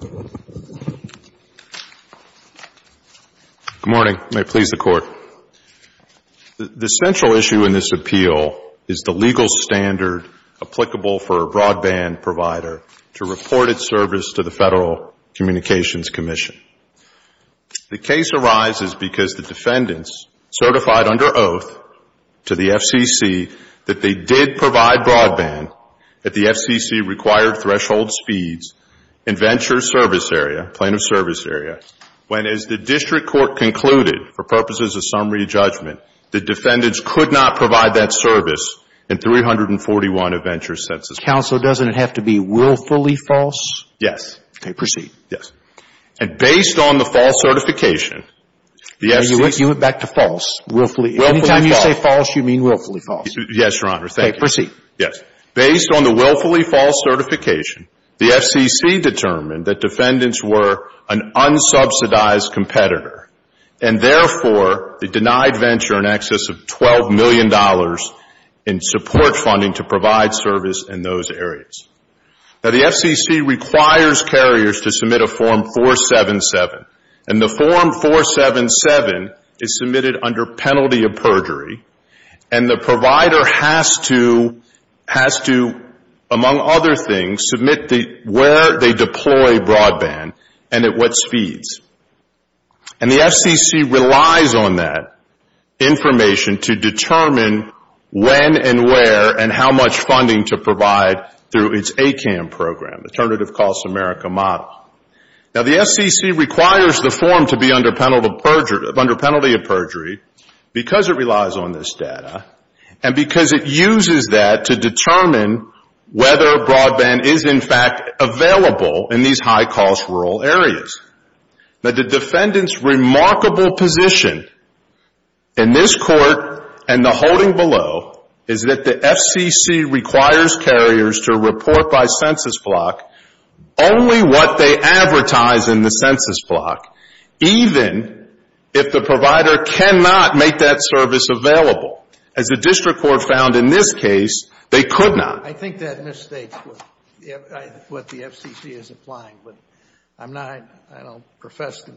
Good morning. May it please the Court. The central issue in this appeal is the legal matter of the Federal Communications Commission. The case arises because the defendants certified under oath to the FCC that they did provide broadband at the FCC-required threshold speeds in Venture Service Area, plaintiff's service area, when, as the district court concluded for purposes of summary judgment, the defendants could not provide that service in 341 of Venture doesn't it have to be willfully false? Yes. Okay. Proceed. Yes. And based on the false certification, the FCC You went back to false. Willfully false. Anytime you say false, you mean willfully false. Yes, Your Honor. Thank you. Okay. Proceed. Yes. Based on the willfully false certification, the FCC determined that defendants were an unsubsidized competitor, and therefore, they denied Venture in excess of $12 million in support funding to provide service in those areas. Now, the FCC requires carriers to submit a Form 477, and the Form 477 is submitted under penalty of perjury, and the provider has to, among other things, submit where they deploy broadband and at what speeds. And the FCC relies on that information to determine when and where and how much funding to provide through its ACAM program, Alternative Costs America model. Now, the FCC requires the form to be under penalty of perjury because it relies on this data and because it uses that to determine whether broadband is, in fact, available in these high-cost rural areas. Now, the defendant's remarkable position in this Court and the holding below is that the FCC requires carriers to report by census block only what they advertise in the census block, even if the provider cannot make that service available. As the district court found in this case, they could not. I think that misstates what the FCC is applying, but I don't profess to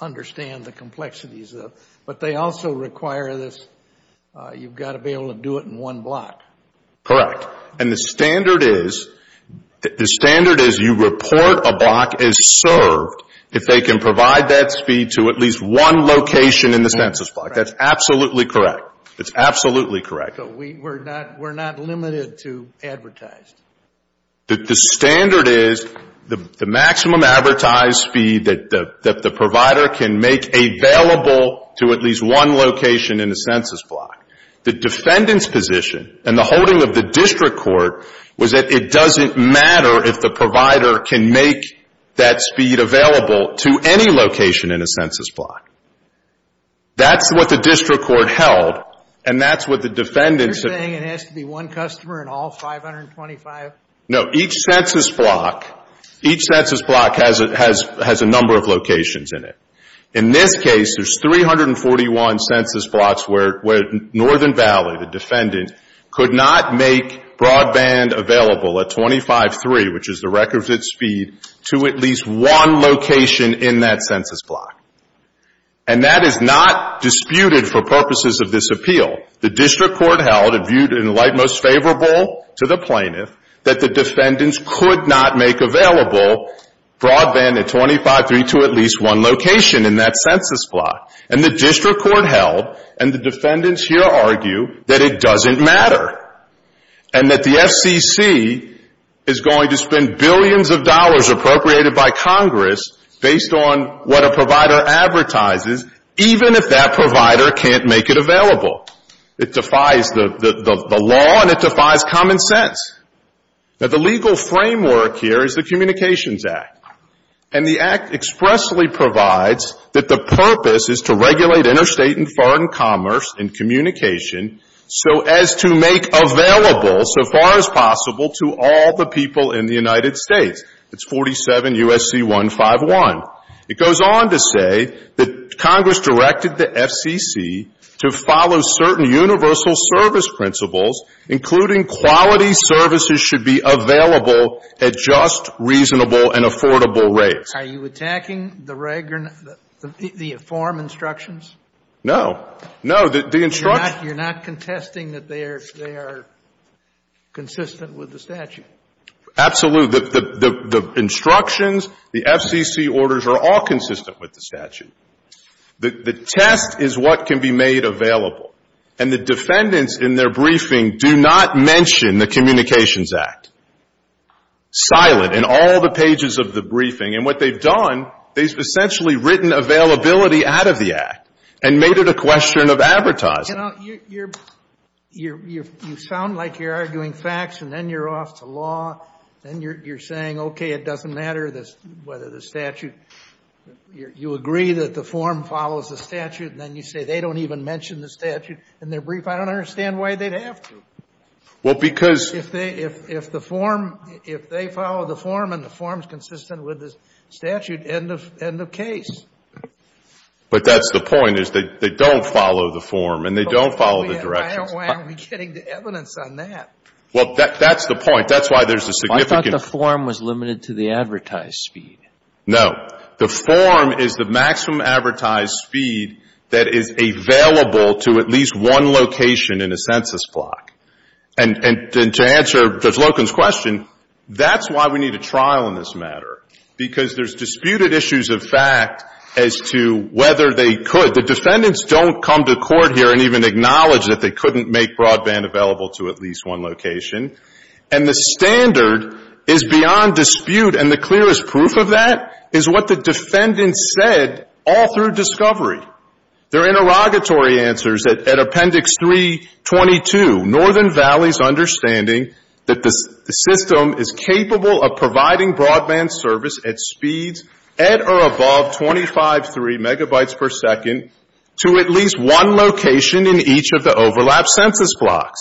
understand the complexities of it. But they also require this, you've got to be able to do it in one block. Correct. And the standard is you report a block as served if they can provide that speed to at least one location in the census block. That's absolutely correct. It's absolutely correct. We're not limited to advertised. The standard is the maximum advertised speed that the provider can make available to at least one location in the census block. The defendant's position and the holding of the district court was that it doesn't matter if the provider can make that speed available to any location in a census block. That's what the district court held and that's what the defendants... You're saying it has to be one customer in all 525? No, each census block has a number of locations in it. In this case, there's 341 census blocks where Northern Valley, the defendant, could not make broadband available at 25.3, which is the record of its speed, to at least one location in that census block. And the district court held and the defendants here argue that it doesn't matter and that the FCC is going to spend billions of dollars appropriated by Congress based on what a provider advertises, even if that provider can't make it available. It defies the law and it defies common sense. Now, the legal framework here is the Communications Act. And the Act expressly provides that the purpose is to regulate interstate and foreign commerce and communication so as to make available, so far as possible, to all the people in the United States. It's 47 U.S.C. 151. It goes on to say that Congress directed the FCC to follow certain universal service principles, including quality services should be available at just, reasonable, and affordable rates. Are you attacking the form instructions? No. No, the instructions... You're not contesting that they are consistent with the statute? Absolutely. The instructions, the FCC orders are all consistent with the statute. The test is what can be made available. And the defendants in their briefing do not mention the Communications Act, silent, in all the pages of the briefing. And what they've done, they've essentially written availability out of the Act and made it a question of advertising. You know, you're, you sound like you're arguing facts and then you're off to law, and you're saying, okay, it doesn't matter whether the statute, you agree that the form follows the statute, and then you say they don't even mention the statute in their brief. I don't understand why they'd have to. Well, because... If they, if the form, if they follow the form and the form's consistent with the statute, end of case. But that's the point, is they don't follow the form and they don't follow the directions. Why aren't we getting the evidence on that? Well, that's the point. That's why there's a significant... I thought the form was limited to the advertised speed. No. The form is the maximum advertised speed that is available to at least one location in a census block. And to answer Judge Loken's question, that's why we need a trial in this matter, because there's disputed issues of fact as to whether they could. The defendants don't come to court here and even acknowledge that they couldn't make broadband available to at least one location. And the standard is beyond dispute, and the clearest proof of that is what the defendants said all through discovery. Their interrogatory answers at Appendix 322, Northern Valley's understanding that the system is capable of providing broadband service at speeds at or above 25.3 megabytes per second to at least one location in each of the overlapped census blocks.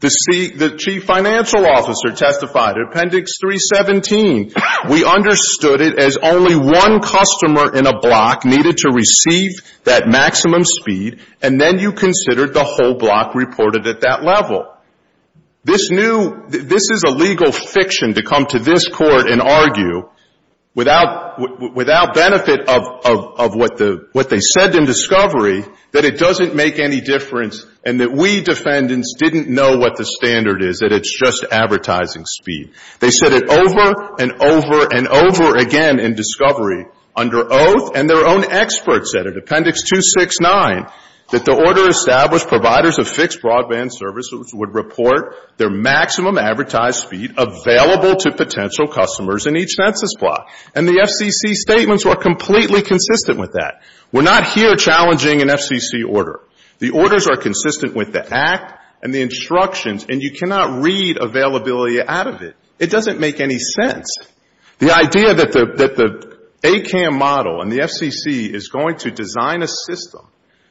The Chief Financial Officer testified at Appendix 317, we understood it as only one customer in a block needed to receive that maximum speed, and then you considered the whole block reported at that level. This new — this is a legal fiction to come to this Court and argue without benefit of what they said in discovery, that it doesn't make any difference and that we defendants didn't know what the standard is, that it's just advertising speed. They said it over and over and over again in discovery under oath, and their own experts said at Appendix 269 that the order established providers of fixed broadband services would report their maximum advertised speed available to potential customers in each census block. And the FCC statements were completely consistent with that. We're not here challenging an FCC order. The orders are consistent with the Act and the instructions, and you cannot read availability out of it. It doesn't make any sense. The idea that the ACAM model and the FCC is going to design a system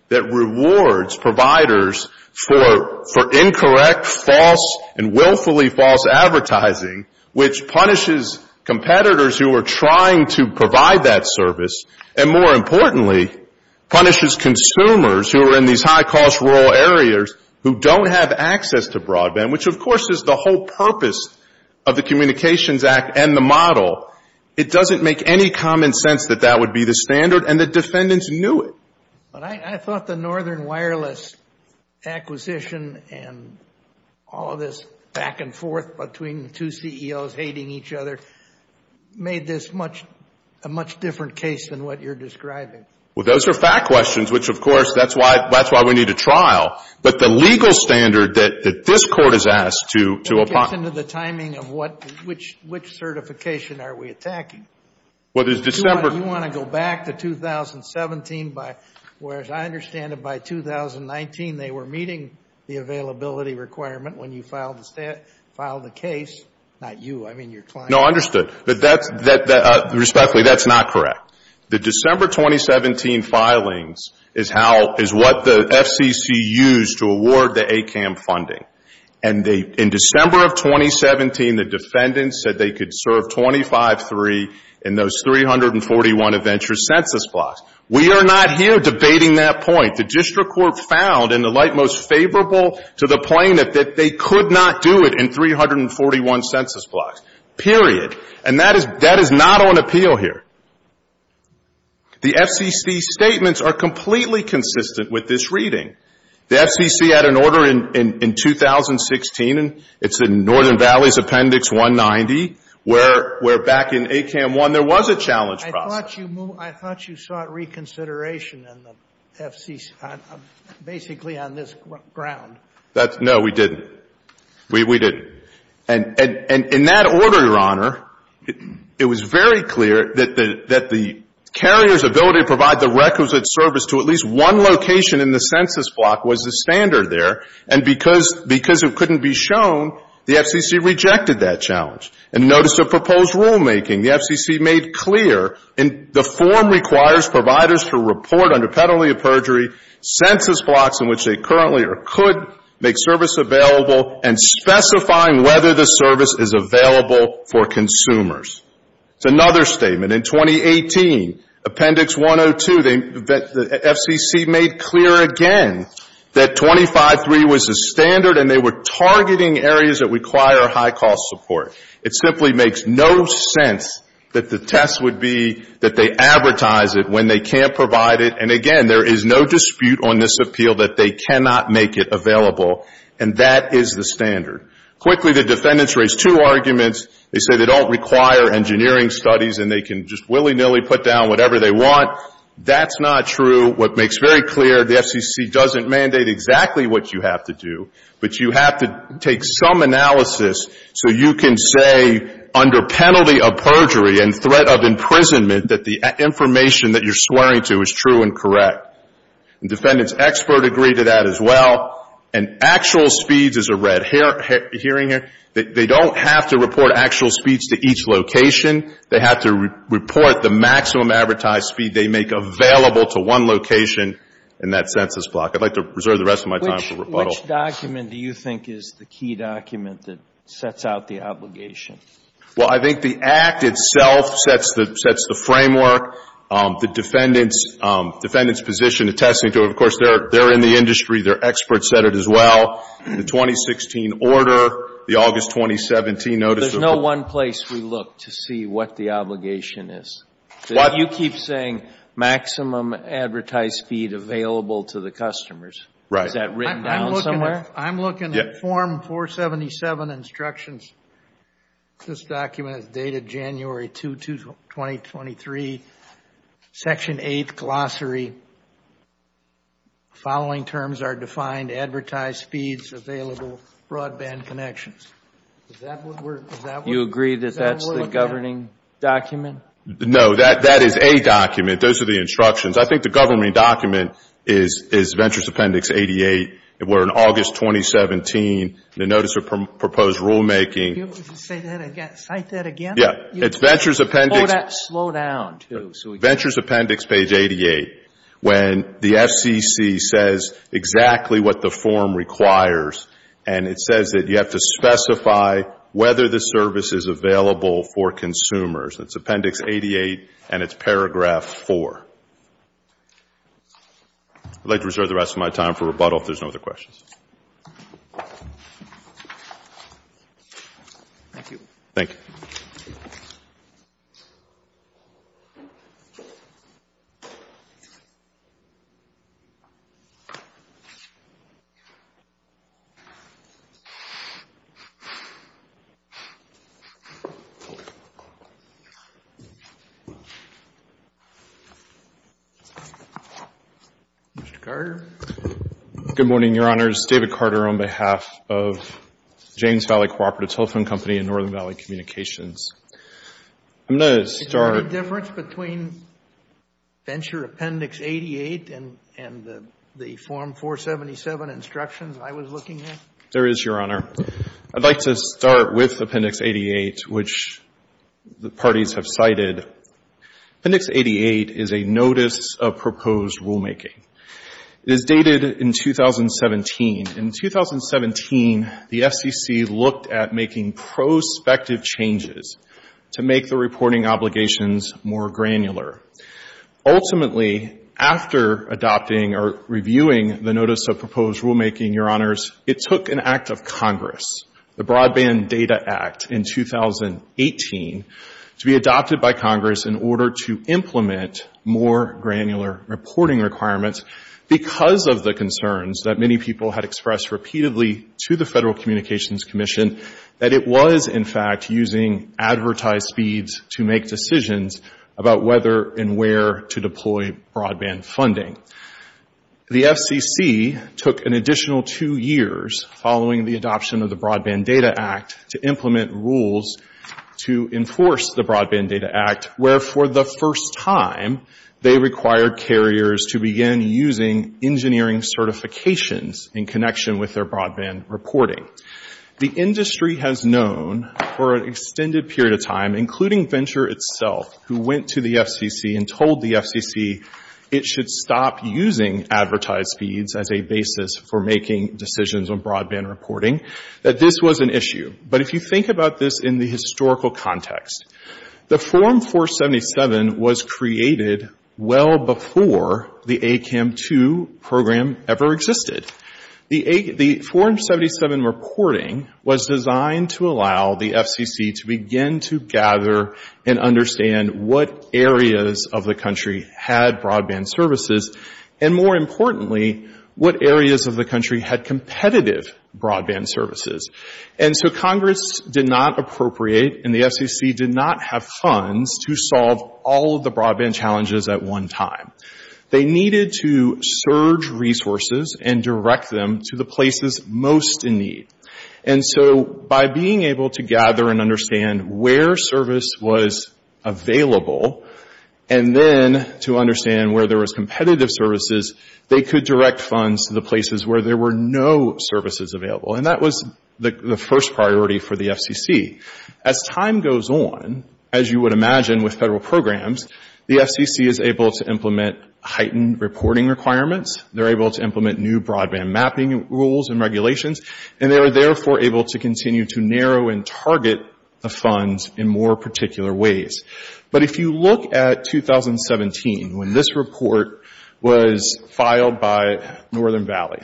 that rewards providers for incorrect, false, and willfully false advertising, which punishes competitors who are trying to provide that service, and more importantly, punishes consumers who are in these high-cost rural areas who don't have access to broadband, which of course is the whole purpose of the model, it doesn't make any common sense that that would be the standard, and the defendants knew it. But I thought the Northern Wireless acquisition and all of this back and forth between the two CEOs hating each other made this a much different case than what you're describing. Well, those are fact questions, which of course, that's why we need a trial. But the legal standard that this Court has asked to apply — What justification are we attacking? Well, there's December — You want to go back to 2017, whereas I understand that by 2019 they were meeting the availability requirement when you filed the case, not you. I mean, your client. No, understood. Respectfully, that's not correct. The December 2017 filings is what the FCC used to award the ACAM funding. In December of 2017, the defendants said they could serve 25-3 in those 341 adventure census blocks. We are not here debating that point. The district court found, in the light most favorable to the plaintiff, that they could not do it in 341 census blocks. Period. And that is not on appeal here. The FCC statements are completely consistent with this reading. The FCC had an order in 2016, and it's in Northern Valley's Appendix 190, where back in ACAM 1 there was a challenge process. I thought you sought reconsideration in the FCC, basically on this ground. No, we didn't. We didn't. And in that order, Your Honor, it was very clear that the carrier's ability to provide the requisite service to at least one location in the census block was the standard there. And because it couldn't be shown, the FCC rejected that challenge. In the notice of proposed rulemaking, the FCC made clear, the form requires providers to report under penalty of perjury census blocks in which they currently or could make service available and specifying whether the service is available for consumers. It's another statement. In 2018, Appendix 102, the FCC made clear again that 25.3 was the standard, and they were targeting areas that require high-cost support. It simply makes no sense that the test would be that they advertise it when they can't provide it. And, again, there is no dispute on this appeal that they cannot make it available, and that is the standard. Quickly, the defendants raised two arguments. They say they don't require engineering studies and they can just willy-nilly put down whatever they want. That's not true. What makes very clear, the FCC doesn't mandate exactly what you have to do, but you have to take some analysis so you can say under penalty of perjury and threat of imprisonment that the information that you're swearing to is true and correct. And defendants expert agree to that as well. And actual speeds is a red herring here. They don't have to report actual speeds to each location. They have to report the maximum advertised speed they make available to one location in that census block. I'd like to reserve the rest of my time for rebuttal. Which document do you think is the key document that sets out the obligation? Well, I think the Act itself sets the framework. The defendant's position attesting to it, of course, they're in the industry. They're experts at it as well. The 2016 order, the August 2017 notice. There's no one place we look to see what the obligation is. You keep saying maximum advertised speed available to the customers. Right. Is that written down somewhere? I'm looking at form 477 instructions. This document is dated January 2, 2023. Section 8, glossary. Following terms are defined. Advertised speeds available. Broadband connections. Does that work? You agree that that's the governing document? No. That is a document. Those are the instructions. I think the governing document is Ventures Appendix 88. We're in August 2017. The notice of proposed rulemaking. Say that again. Cite that again? Yeah. It's Ventures Appendix. Slow down. Ventures Appendix, page 88. When the FCC says exactly what the form requires, and it says that you have to specify whether the service is available for consumers. It's Appendix 88, and it's paragraph 4. I'd like to reserve the rest of my time for rebuttal if there's no other questions. Thank you. Thank you. Thank you. Mr. Carter. I'm David Carter on behalf of James Valley Cooperative Telephone Company and Northern Valley Communications. I'm going to start. Is there any difference between Venture Appendix 88 and the Form 477 instructions I was looking at? There is, Your Honor. I'd like to start with Appendix 88, which the parties have cited. Appendix 88 is a notice of proposed rulemaking. It is dated in 2017. In 2017, the FCC looked at making prospective changes to make the reporting obligations more granular. Ultimately, after adopting or reviewing the notice of proposed rulemaking, Your Honors, it took an act of Congress, the Broadband Data Act in 2018, to be adopted by Congress in order to implement more granular reporting requirements because of the concerns that many people had expressed repeatedly to the Federal Communications Commission that it was, in fact, using advertised speeds to make decisions about whether and where to deploy broadband funding. The FCC took an additional two years following the adoption of the Broadband Data Act to implement rules to enforce the Broadband Data Act, where, for the first time, they required carriers to begin using engineering certifications in connection with their broadband reporting. The industry has known for an extended period of time, including Venture itself, who went to the FCC and told the FCC it should stop using advertised speeds as a basis for making decisions on broadband reporting, that this was an issue. But if you think about this in the historical context, the Form 477 was created well before the ACAM2 program ever existed. The Form 477 reporting was designed to allow the FCC to begin to gather and understand what areas of the country had broadband services and, more importantly, what areas of the country had competitive broadband services. And so Congress did not appropriate and the FCC did not have funds to solve all of the broadband challenges at one time. They needed to surge resources and direct them to the places most in need. And so by being able to gather and understand where service was available and then to understand where there was competitive services, they could direct funds to the places where there were no services available. And that was the first priority for the FCC. As time goes on, as you would imagine with federal programs, the FCC is able to implement heightened reporting requirements, they're able to implement new broadband mapping rules and regulations, and they are therefore able to continue to narrow and target the funds in more particular ways. But if you look at 2017, when this report was filed by Northern Valley,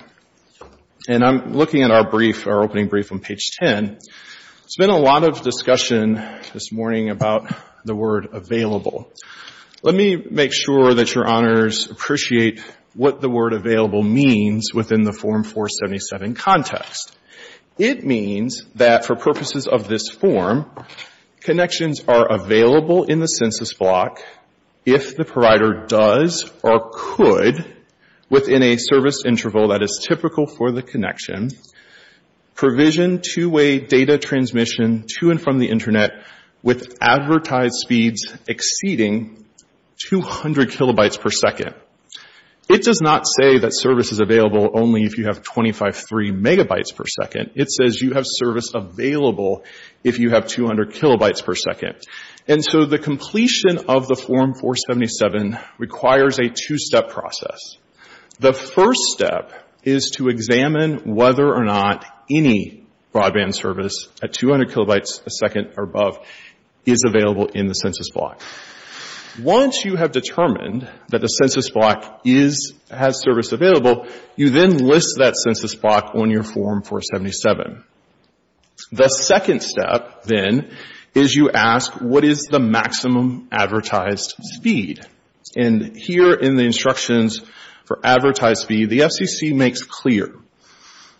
and I'm looking at our brief, our opening brief on page 10, there's been a lot of discussion this morning about the word available. Let me make sure that Your Honors appreciate what the word available means within the Form 477 context. It means that for purposes of this form, connections are available in the census block if the provider does or could, within a service interval that is typical for the connection, provision two-way data transmission to and from the Internet with advertised speeds exceeding 200 kilobytes per second. It does not say that service is available only if you have 25.3 megabytes per second. It says you have service available if you have 200 kilobytes per second. And so the completion of the Form 477 requires a two-step process. The first step is to examine whether or not any broadband service at 200 kilobytes a second or above is available in the census block. Once you have determined that the census block has service available, you then list that census block on your Form 477. The second step, then, is you ask, what is the maximum advertised speed? And here in the instructions for advertised speed, the FCC makes clear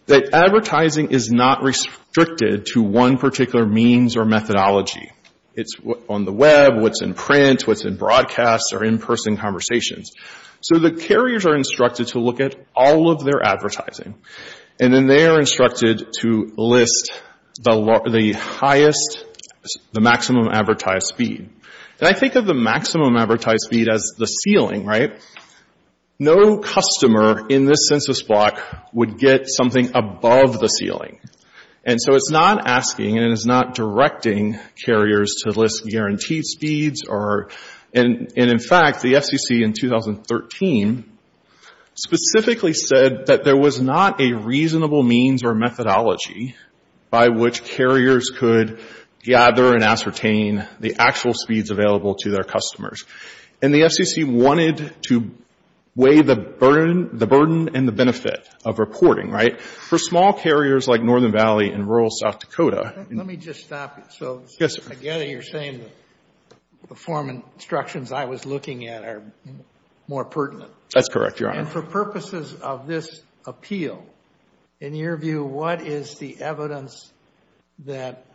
that advertising is not restricted to one particular means or methodology. It's on the web, what's in print, what's in broadcast or in-person conversations. So the carriers are instructed to look at all of their advertising, and then they are instructed to list the highest, the maximum advertised speed. And I think of the maximum advertised speed as the ceiling, right? No customer in this census block would get something above the ceiling. And so it's not asking and it is not directing carriers to list guaranteed speeds. And, in fact, the FCC in 2013 specifically said that there was not a reasonable means or methodology by which carriers could gather and ascertain the actual speeds available to their customers. And the FCC wanted to weigh the burden and the benefit of reporting, right? For small carriers like Northern Valley and rural South Dakota. Let me just stop you. Yes, sir. I gather you're saying the form and instructions I was looking at are more pertinent. That's correct, Your Honor. And for purposes of this appeal, in your view, what is the evidence that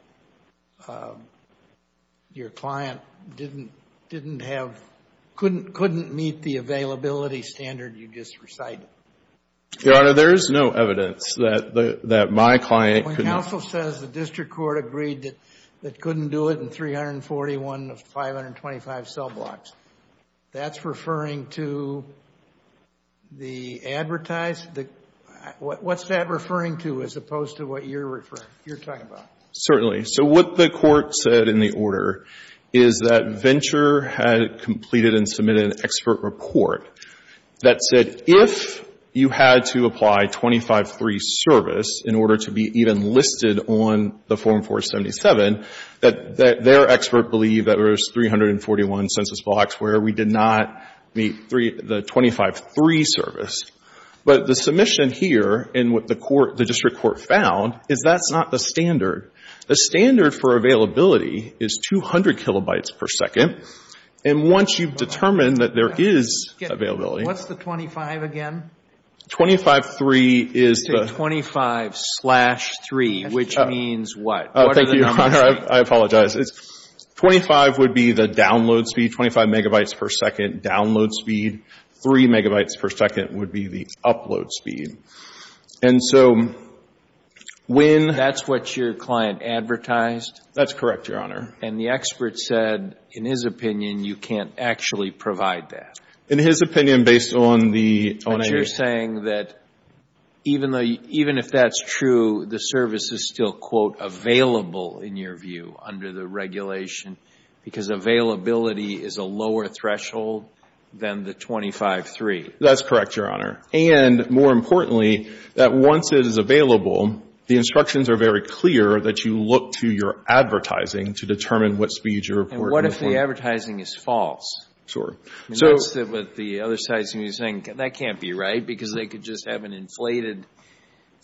your client didn't have, couldn't meet the availability standard you just recited? Your Honor, there is no evidence that my client couldn't. When counsel says the district court agreed that couldn't do it in 341 of 525 cell blocks, that's referring to the advertised? What's that referring to as opposed to what you're talking about? Certainly. So what the court said in the order is that Venture had completed and submitted an expert report that said if you had to apply 25-3 service in order to be even listed on the Form 477, that their expert believed that there was 341 census blocks where we did not meet the 25-3 service. But the submission here and what the court, the district court found is that's not the standard. The standard for availability is 200 kilobytes per second. And once you've determined that there is availability. What's the 25 again? 25-3 is the. You say 25-3, which means what? Thank you, Your Honor. I apologize. 25 would be the download speed, 25 megabytes per second download speed. Three megabytes per second would be the upload speed. And so when. That's what your client advertised? That's correct, Your Honor. And the expert said in his opinion you can't actually provide that. In his opinion based on the. But you're saying that even if that's true, the service is still, quote, available in your view under the regulation because availability is a lower threshold than the 25-3. That's correct, Your Honor. And more importantly, that once it is available, the instructions are very clear that you look to your advertising to determine what speed you're reporting. And what if the advertising is false? Sure. That's what the other side is going to be saying. That can't be right because they could just have an inflated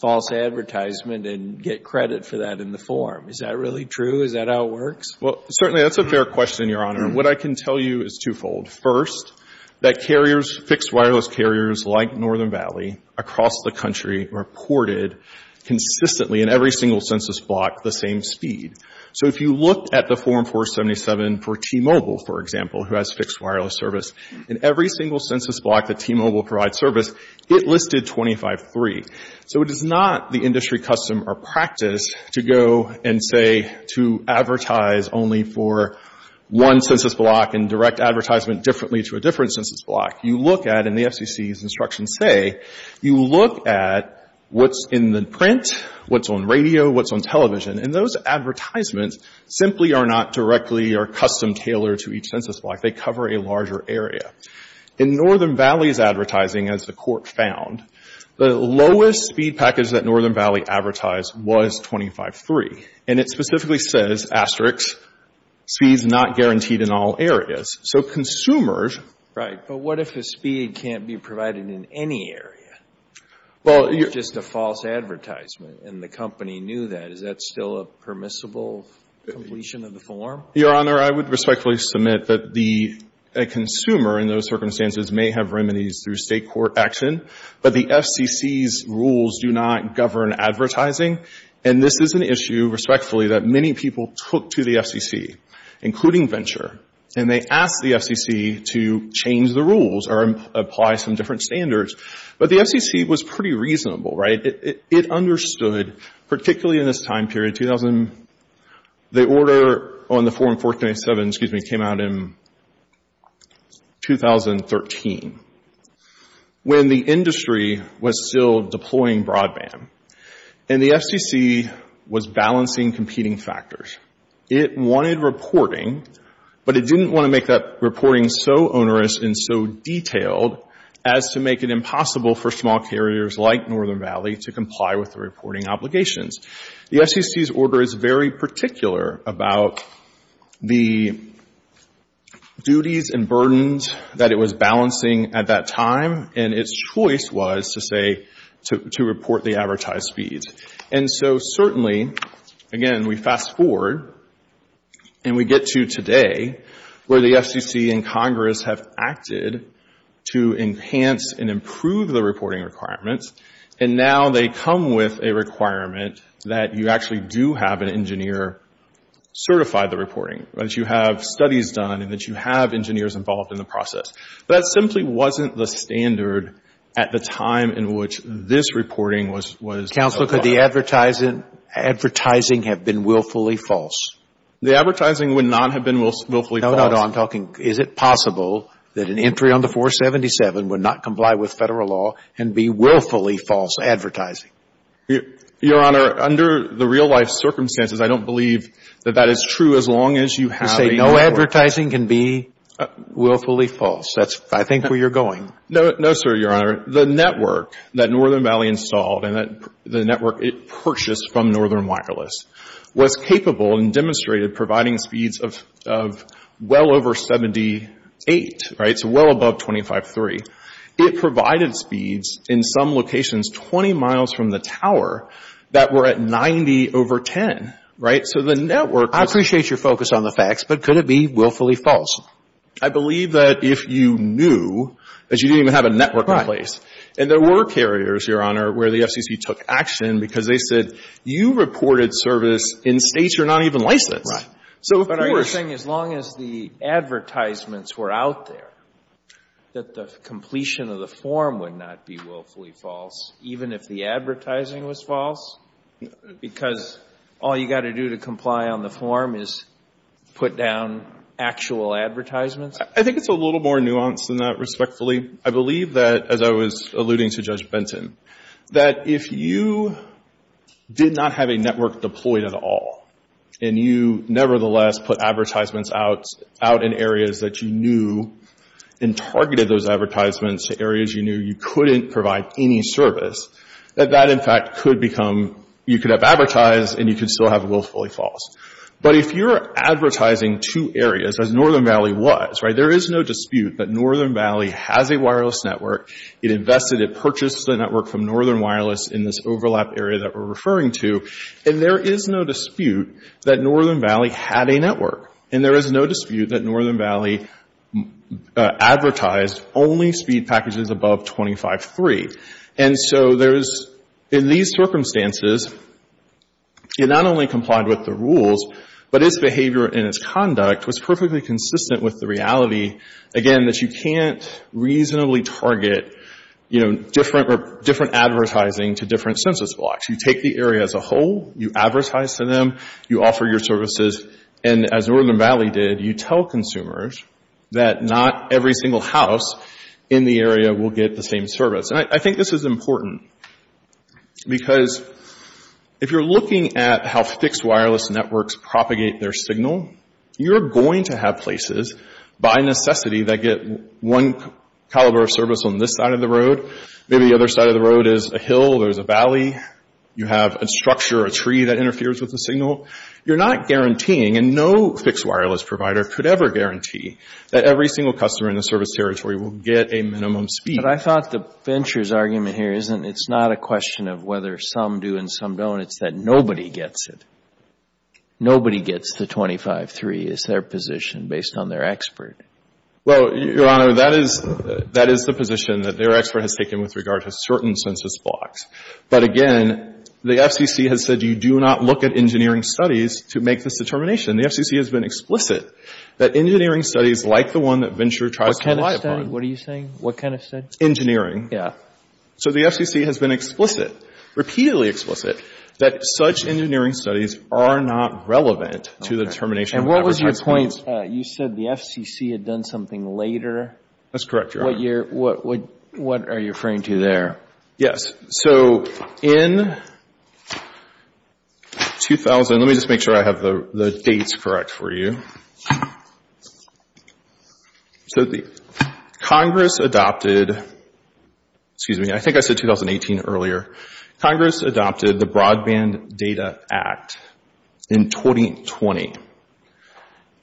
false advertisement and get credit for that in the form. Is that really true? Is that how it works? Well, certainly that's a fair question, Your Honor. What I can tell you is twofold. First, that carriers, fixed wireless carriers like Northern Valley, across the country reported consistently in every single census block the same speed. So if you look at the Form 477 for T-Mobile, for example, who has fixed wireless service, in every single census block that T-Mobile provides service, it listed 25-3. So it is not the industry custom or practice to go and say to advertise only for one census block and direct advertisement differently to a different census block. You look at, and the FCC's instructions say, you look at what's in the print, what's on radio, what's on television. And those advertisements simply are not directly or custom-tailored to each census block. They cover a larger area. In Northern Valley's advertising, as the Court found, the lowest speed package that Northern Valley advertised was 25-3. And it specifically says, asterisks, speed's not guaranteed in all areas. So consumers — Right. But what if a speed can't be provided in any area? Well — It's just a false advertisement. And the company knew that. Is that still a permissible completion of the form? Your Honor, I would respectfully submit that the consumer in those circumstances may have remedies through State court action. But the FCC's rules do not govern advertising. And this is an issue, respectfully, that many people took to the FCC, including Venture. And they asked the FCC to change the rules or apply some different standards. But the FCC was pretty reasonable, right? It understood, particularly in this time period, 2000 — the order on the Form 1487, excuse me, came out in 2013, when the industry was still deploying broadband. And the FCC was balancing competing factors. It wanted reporting, but it didn't want to make that reporting so onerous and so detailed as to make it impossible for small carriers like Northern Valley to comply with the reporting obligations. The FCC's order is very particular about the duties and burdens that it was balancing at that time. And its choice was to say — to report the advertised speeds. And so certainly, again, we fast forward and we get to today, where the FCC and Congress have acted to enhance and improve the reporting requirements. And now they come with a requirement that you actually do have an engineer certify the reporting, that you have studies done and that you have engineers involved in the process. That simply wasn't the standard at the time in which this reporting was held up. Counsel, could the advertising have been willfully false? The advertising would not have been willfully false. No, no, no. I'm talking, is it possible that an entry on the 477 would not comply with Federal law and be willfully false advertising? Your Honor, under the real-life circumstances, I don't believe that that is true as long as you have a — You're saying no advertising can be willfully false. That's, I think, where you're going. No, sir, Your Honor. The network that Northern Valley installed and the network it purchased from Northern Wireless was capable and demonstrated providing speeds of well over 78, right? So well above 25.3. It provided speeds in some locations 20 miles from the tower that were at 90 over 10, right? So the network — I appreciate your focus on the facts, but could it be willfully false? I believe that if you knew, that you didn't even have a network in place. Right. And there were carriers, Your Honor, where the FCC took action because they said, you reported service in States you're not even licensed. Right. So, of course — But are you saying as long as the advertisements were out there, that the completion of the form would not be willfully false, even if the advertising was false? Because all you've got to do to comply on the form is put down actual advertisements? I think it's a little more nuanced than that, respectfully. I believe that, as I was alluding to Judge Benton, that if you did not have a network deployed at all and you nevertheless put advertisements out in areas that you knew and targeted those advertisements to areas you knew you couldn't provide any service, that that, in fact, could become — you could have advertised and you could still have willfully false. But if you're advertising two areas, as Northern Valley was, right, there is no dispute that Northern Valley has a wireless network. It invested, it purchased the network from Northern Wireless in this overlap area that we're referring to. And there is no dispute that Northern Valley had a network. And there is no dispute that Northern Valley advertised only speed packages above 25.3. And so there's — in these circumstances, it not only complied with the rules, but its behavior and its conduct was perfectly consistent with the reality, again, that you can't reasonably target, you know, different advertising to different census blocks. You take the area as a whole. You advertise to them. You offer your services. And as Northern Valley did, you tell consumers that not every single house in the area will get the same service. And I think this is important because if you're looking at how fixed wireless networks propagate their signal, you're going to have places, by necessity, that get one caliber of service on this side of the road. Maybe the other side of the road is a hill or is a valley. You have a structure or a tree that interferes with the signal. You're not guaranteeing, and no fixed wireless provider could ever guarantee, that every single customer in the service territory will get a minimum speed. But I thought the Venture's argument here isn't — it's not a question of whether some do and some don't. It's that nobody gets it. Nobody gets the 25.3 as their position based on their expert. Well, Your Honor, that is — that is the position that their expert has taken with regard to certain census blocks. But again, the FCC has said you do not look at engineering studies to make this determination. The FCC has been explicit that engineering studies like the one that Venture tries to rely upon — What kind of study? Engineering. Yeah. So the FCC has been explicit, repeatedly explicit, that such engineering studies are not relevant to the determination of whatever type of — And what was your point? You said the FCC had done something later. That's correct, Your Honor. What are you referring to there? Yes. So in 2000 — let me just make sure I have the dates correct for you. So the Congress adopted — excuse me, I think I said 2018 earlier. Congress adopted the Broadband Data Act in 2020,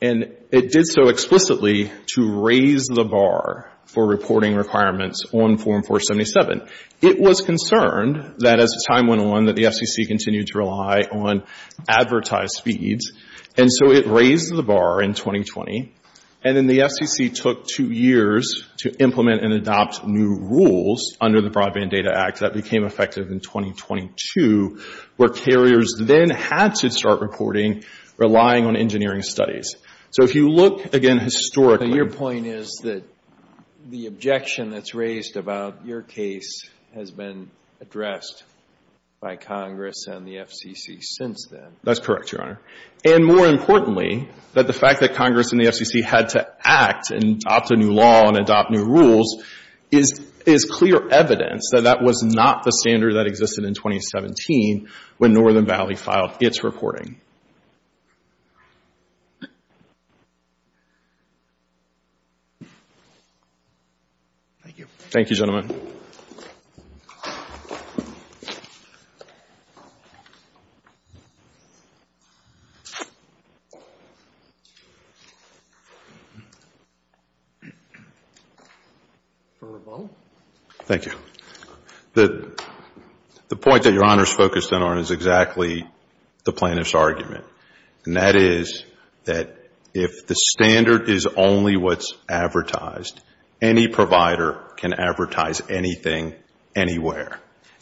and it did so explicitly to raise the bar for reporting requirements on Form 477. It was concerned that as time went on that the FCC continued to rely on advertised feeds, and so it raised the bar in 2020. And then the FCC took two years to implement and adopt new rules under the Broadband Data Act that became effective in 2022, where carriers then had to start reporting relying on engineering studies. So if you look, again, historically — But your point is that the objection that's raised about your case has been addressed by Congress and the FCC since then. That's correct, Your Honor. And more importantly, that the fact that Congress and the FCC had to act and adopt a new law and adopt new rules is clear evidence that that was not the standard that existed in 2017 when Northern Valley filed its reporting. Thank you. Thank you, gentlemen. Thank you. The point that Your Honor is focused on is exactly the plaintiff's argument, and that is that if the standard is only what's advertised, any provider can advertise anything anywhere.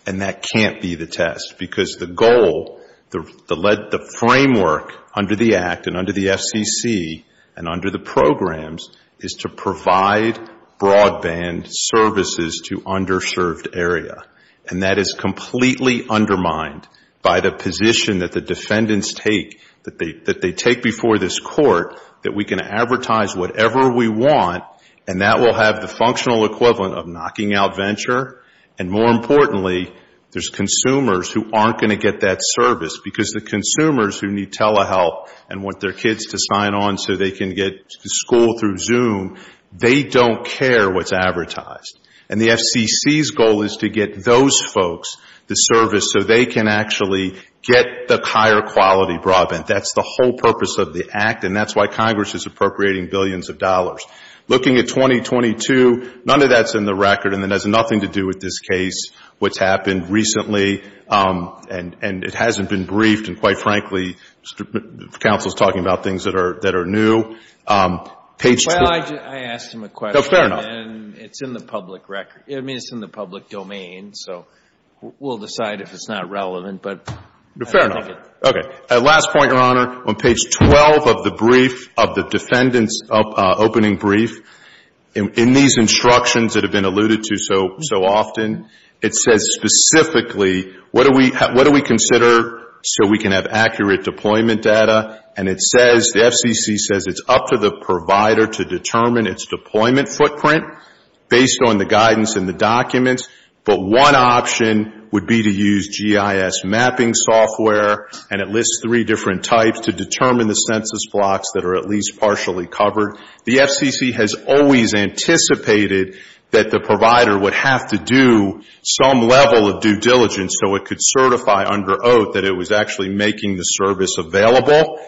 And that can't be the test, because the goal, the framework under the Act and under the FCC and under the programs is to provide broadband services to underserved area. And that is completely undermined by the position that the defendants take, that they take before this Court that we can advertise whatever we want, and that will have the functional equivalent of knocking out venture. And more importantly, there's consumers who aren't going to get that service, because the consumers who need telehealth and want their kids to sign on so they can get to school through Zoom, they don't care what's advertised. And the FCC's goal is to get those folks the service so they can actually get the higher quality broadband. That's the whole purpose of the Act, and that's why Congress is appropriating billions of dollars. Looking at 2022, none of that's in the record, and it has nothing to do with this case, what's happened recently, and it hasn't been briefed, and quite frankly the counsel is talking about things that are new. Well, I asked him a question. Fair enough. And it's in the public record. I mean, it's in the public domain, so we'll decide if it's not relevant. Fair enough. Okay. Last point, Your Honor. On page 12 of the brief, of the defendant's opening brief, in these instructions that have been alluded to so often, it says specifically, what do we consider so we can have accurate deployment data? And it says, the FCC says it's up to the provider to determine its deployment footprint based on the guidance and the documents, but one option would be to use GIS mapping software, and it lists three different types to determine the census blocks that are at least partially covered. The FCC has always anticipated that the provider would have to do some level of due diligence so it could certify under oath that it was actually making the service available.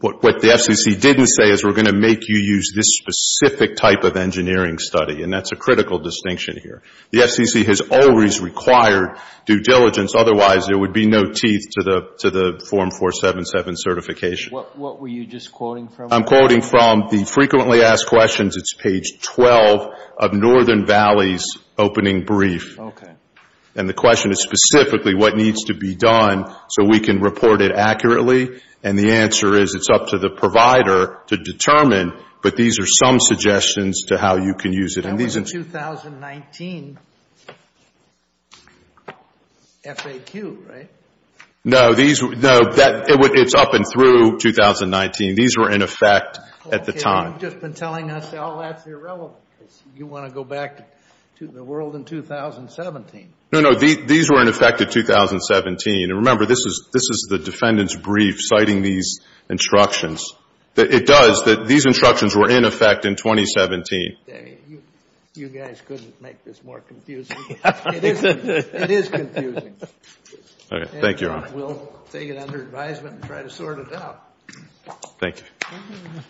What the FCC didn't say is we're going to make you use this specific type of engineering study, and that's a critical distinction here. The FCC has always required due diligence. Otherwise, there would be no teeth to the Form 477 certification. What were you just quoting from? I'm quoting from the frequently asked questions. It's page 12 of Northern Valley's opening brief. Okay. And the question is specifically what needs to be done so we can report it accurately, and the answer is it's up to the provider to determine, but these are some suggestions to how you can use it. That was a 2019 FAQ, right? No, it's up and through 2019. These were in effect at the time. You've just been telling us all that's irrelevant because you want to go back to the world in 2017. No, no. These were in effect in 2017. And remember, this is the defendant's brief citing these instructions. It does that these instructions were in effect in 2017. You guys couldn't make this more confusing. It is confusing. All right. Thank you, Your Honor. We'll take it under advisement and try to sort it out. Thank you.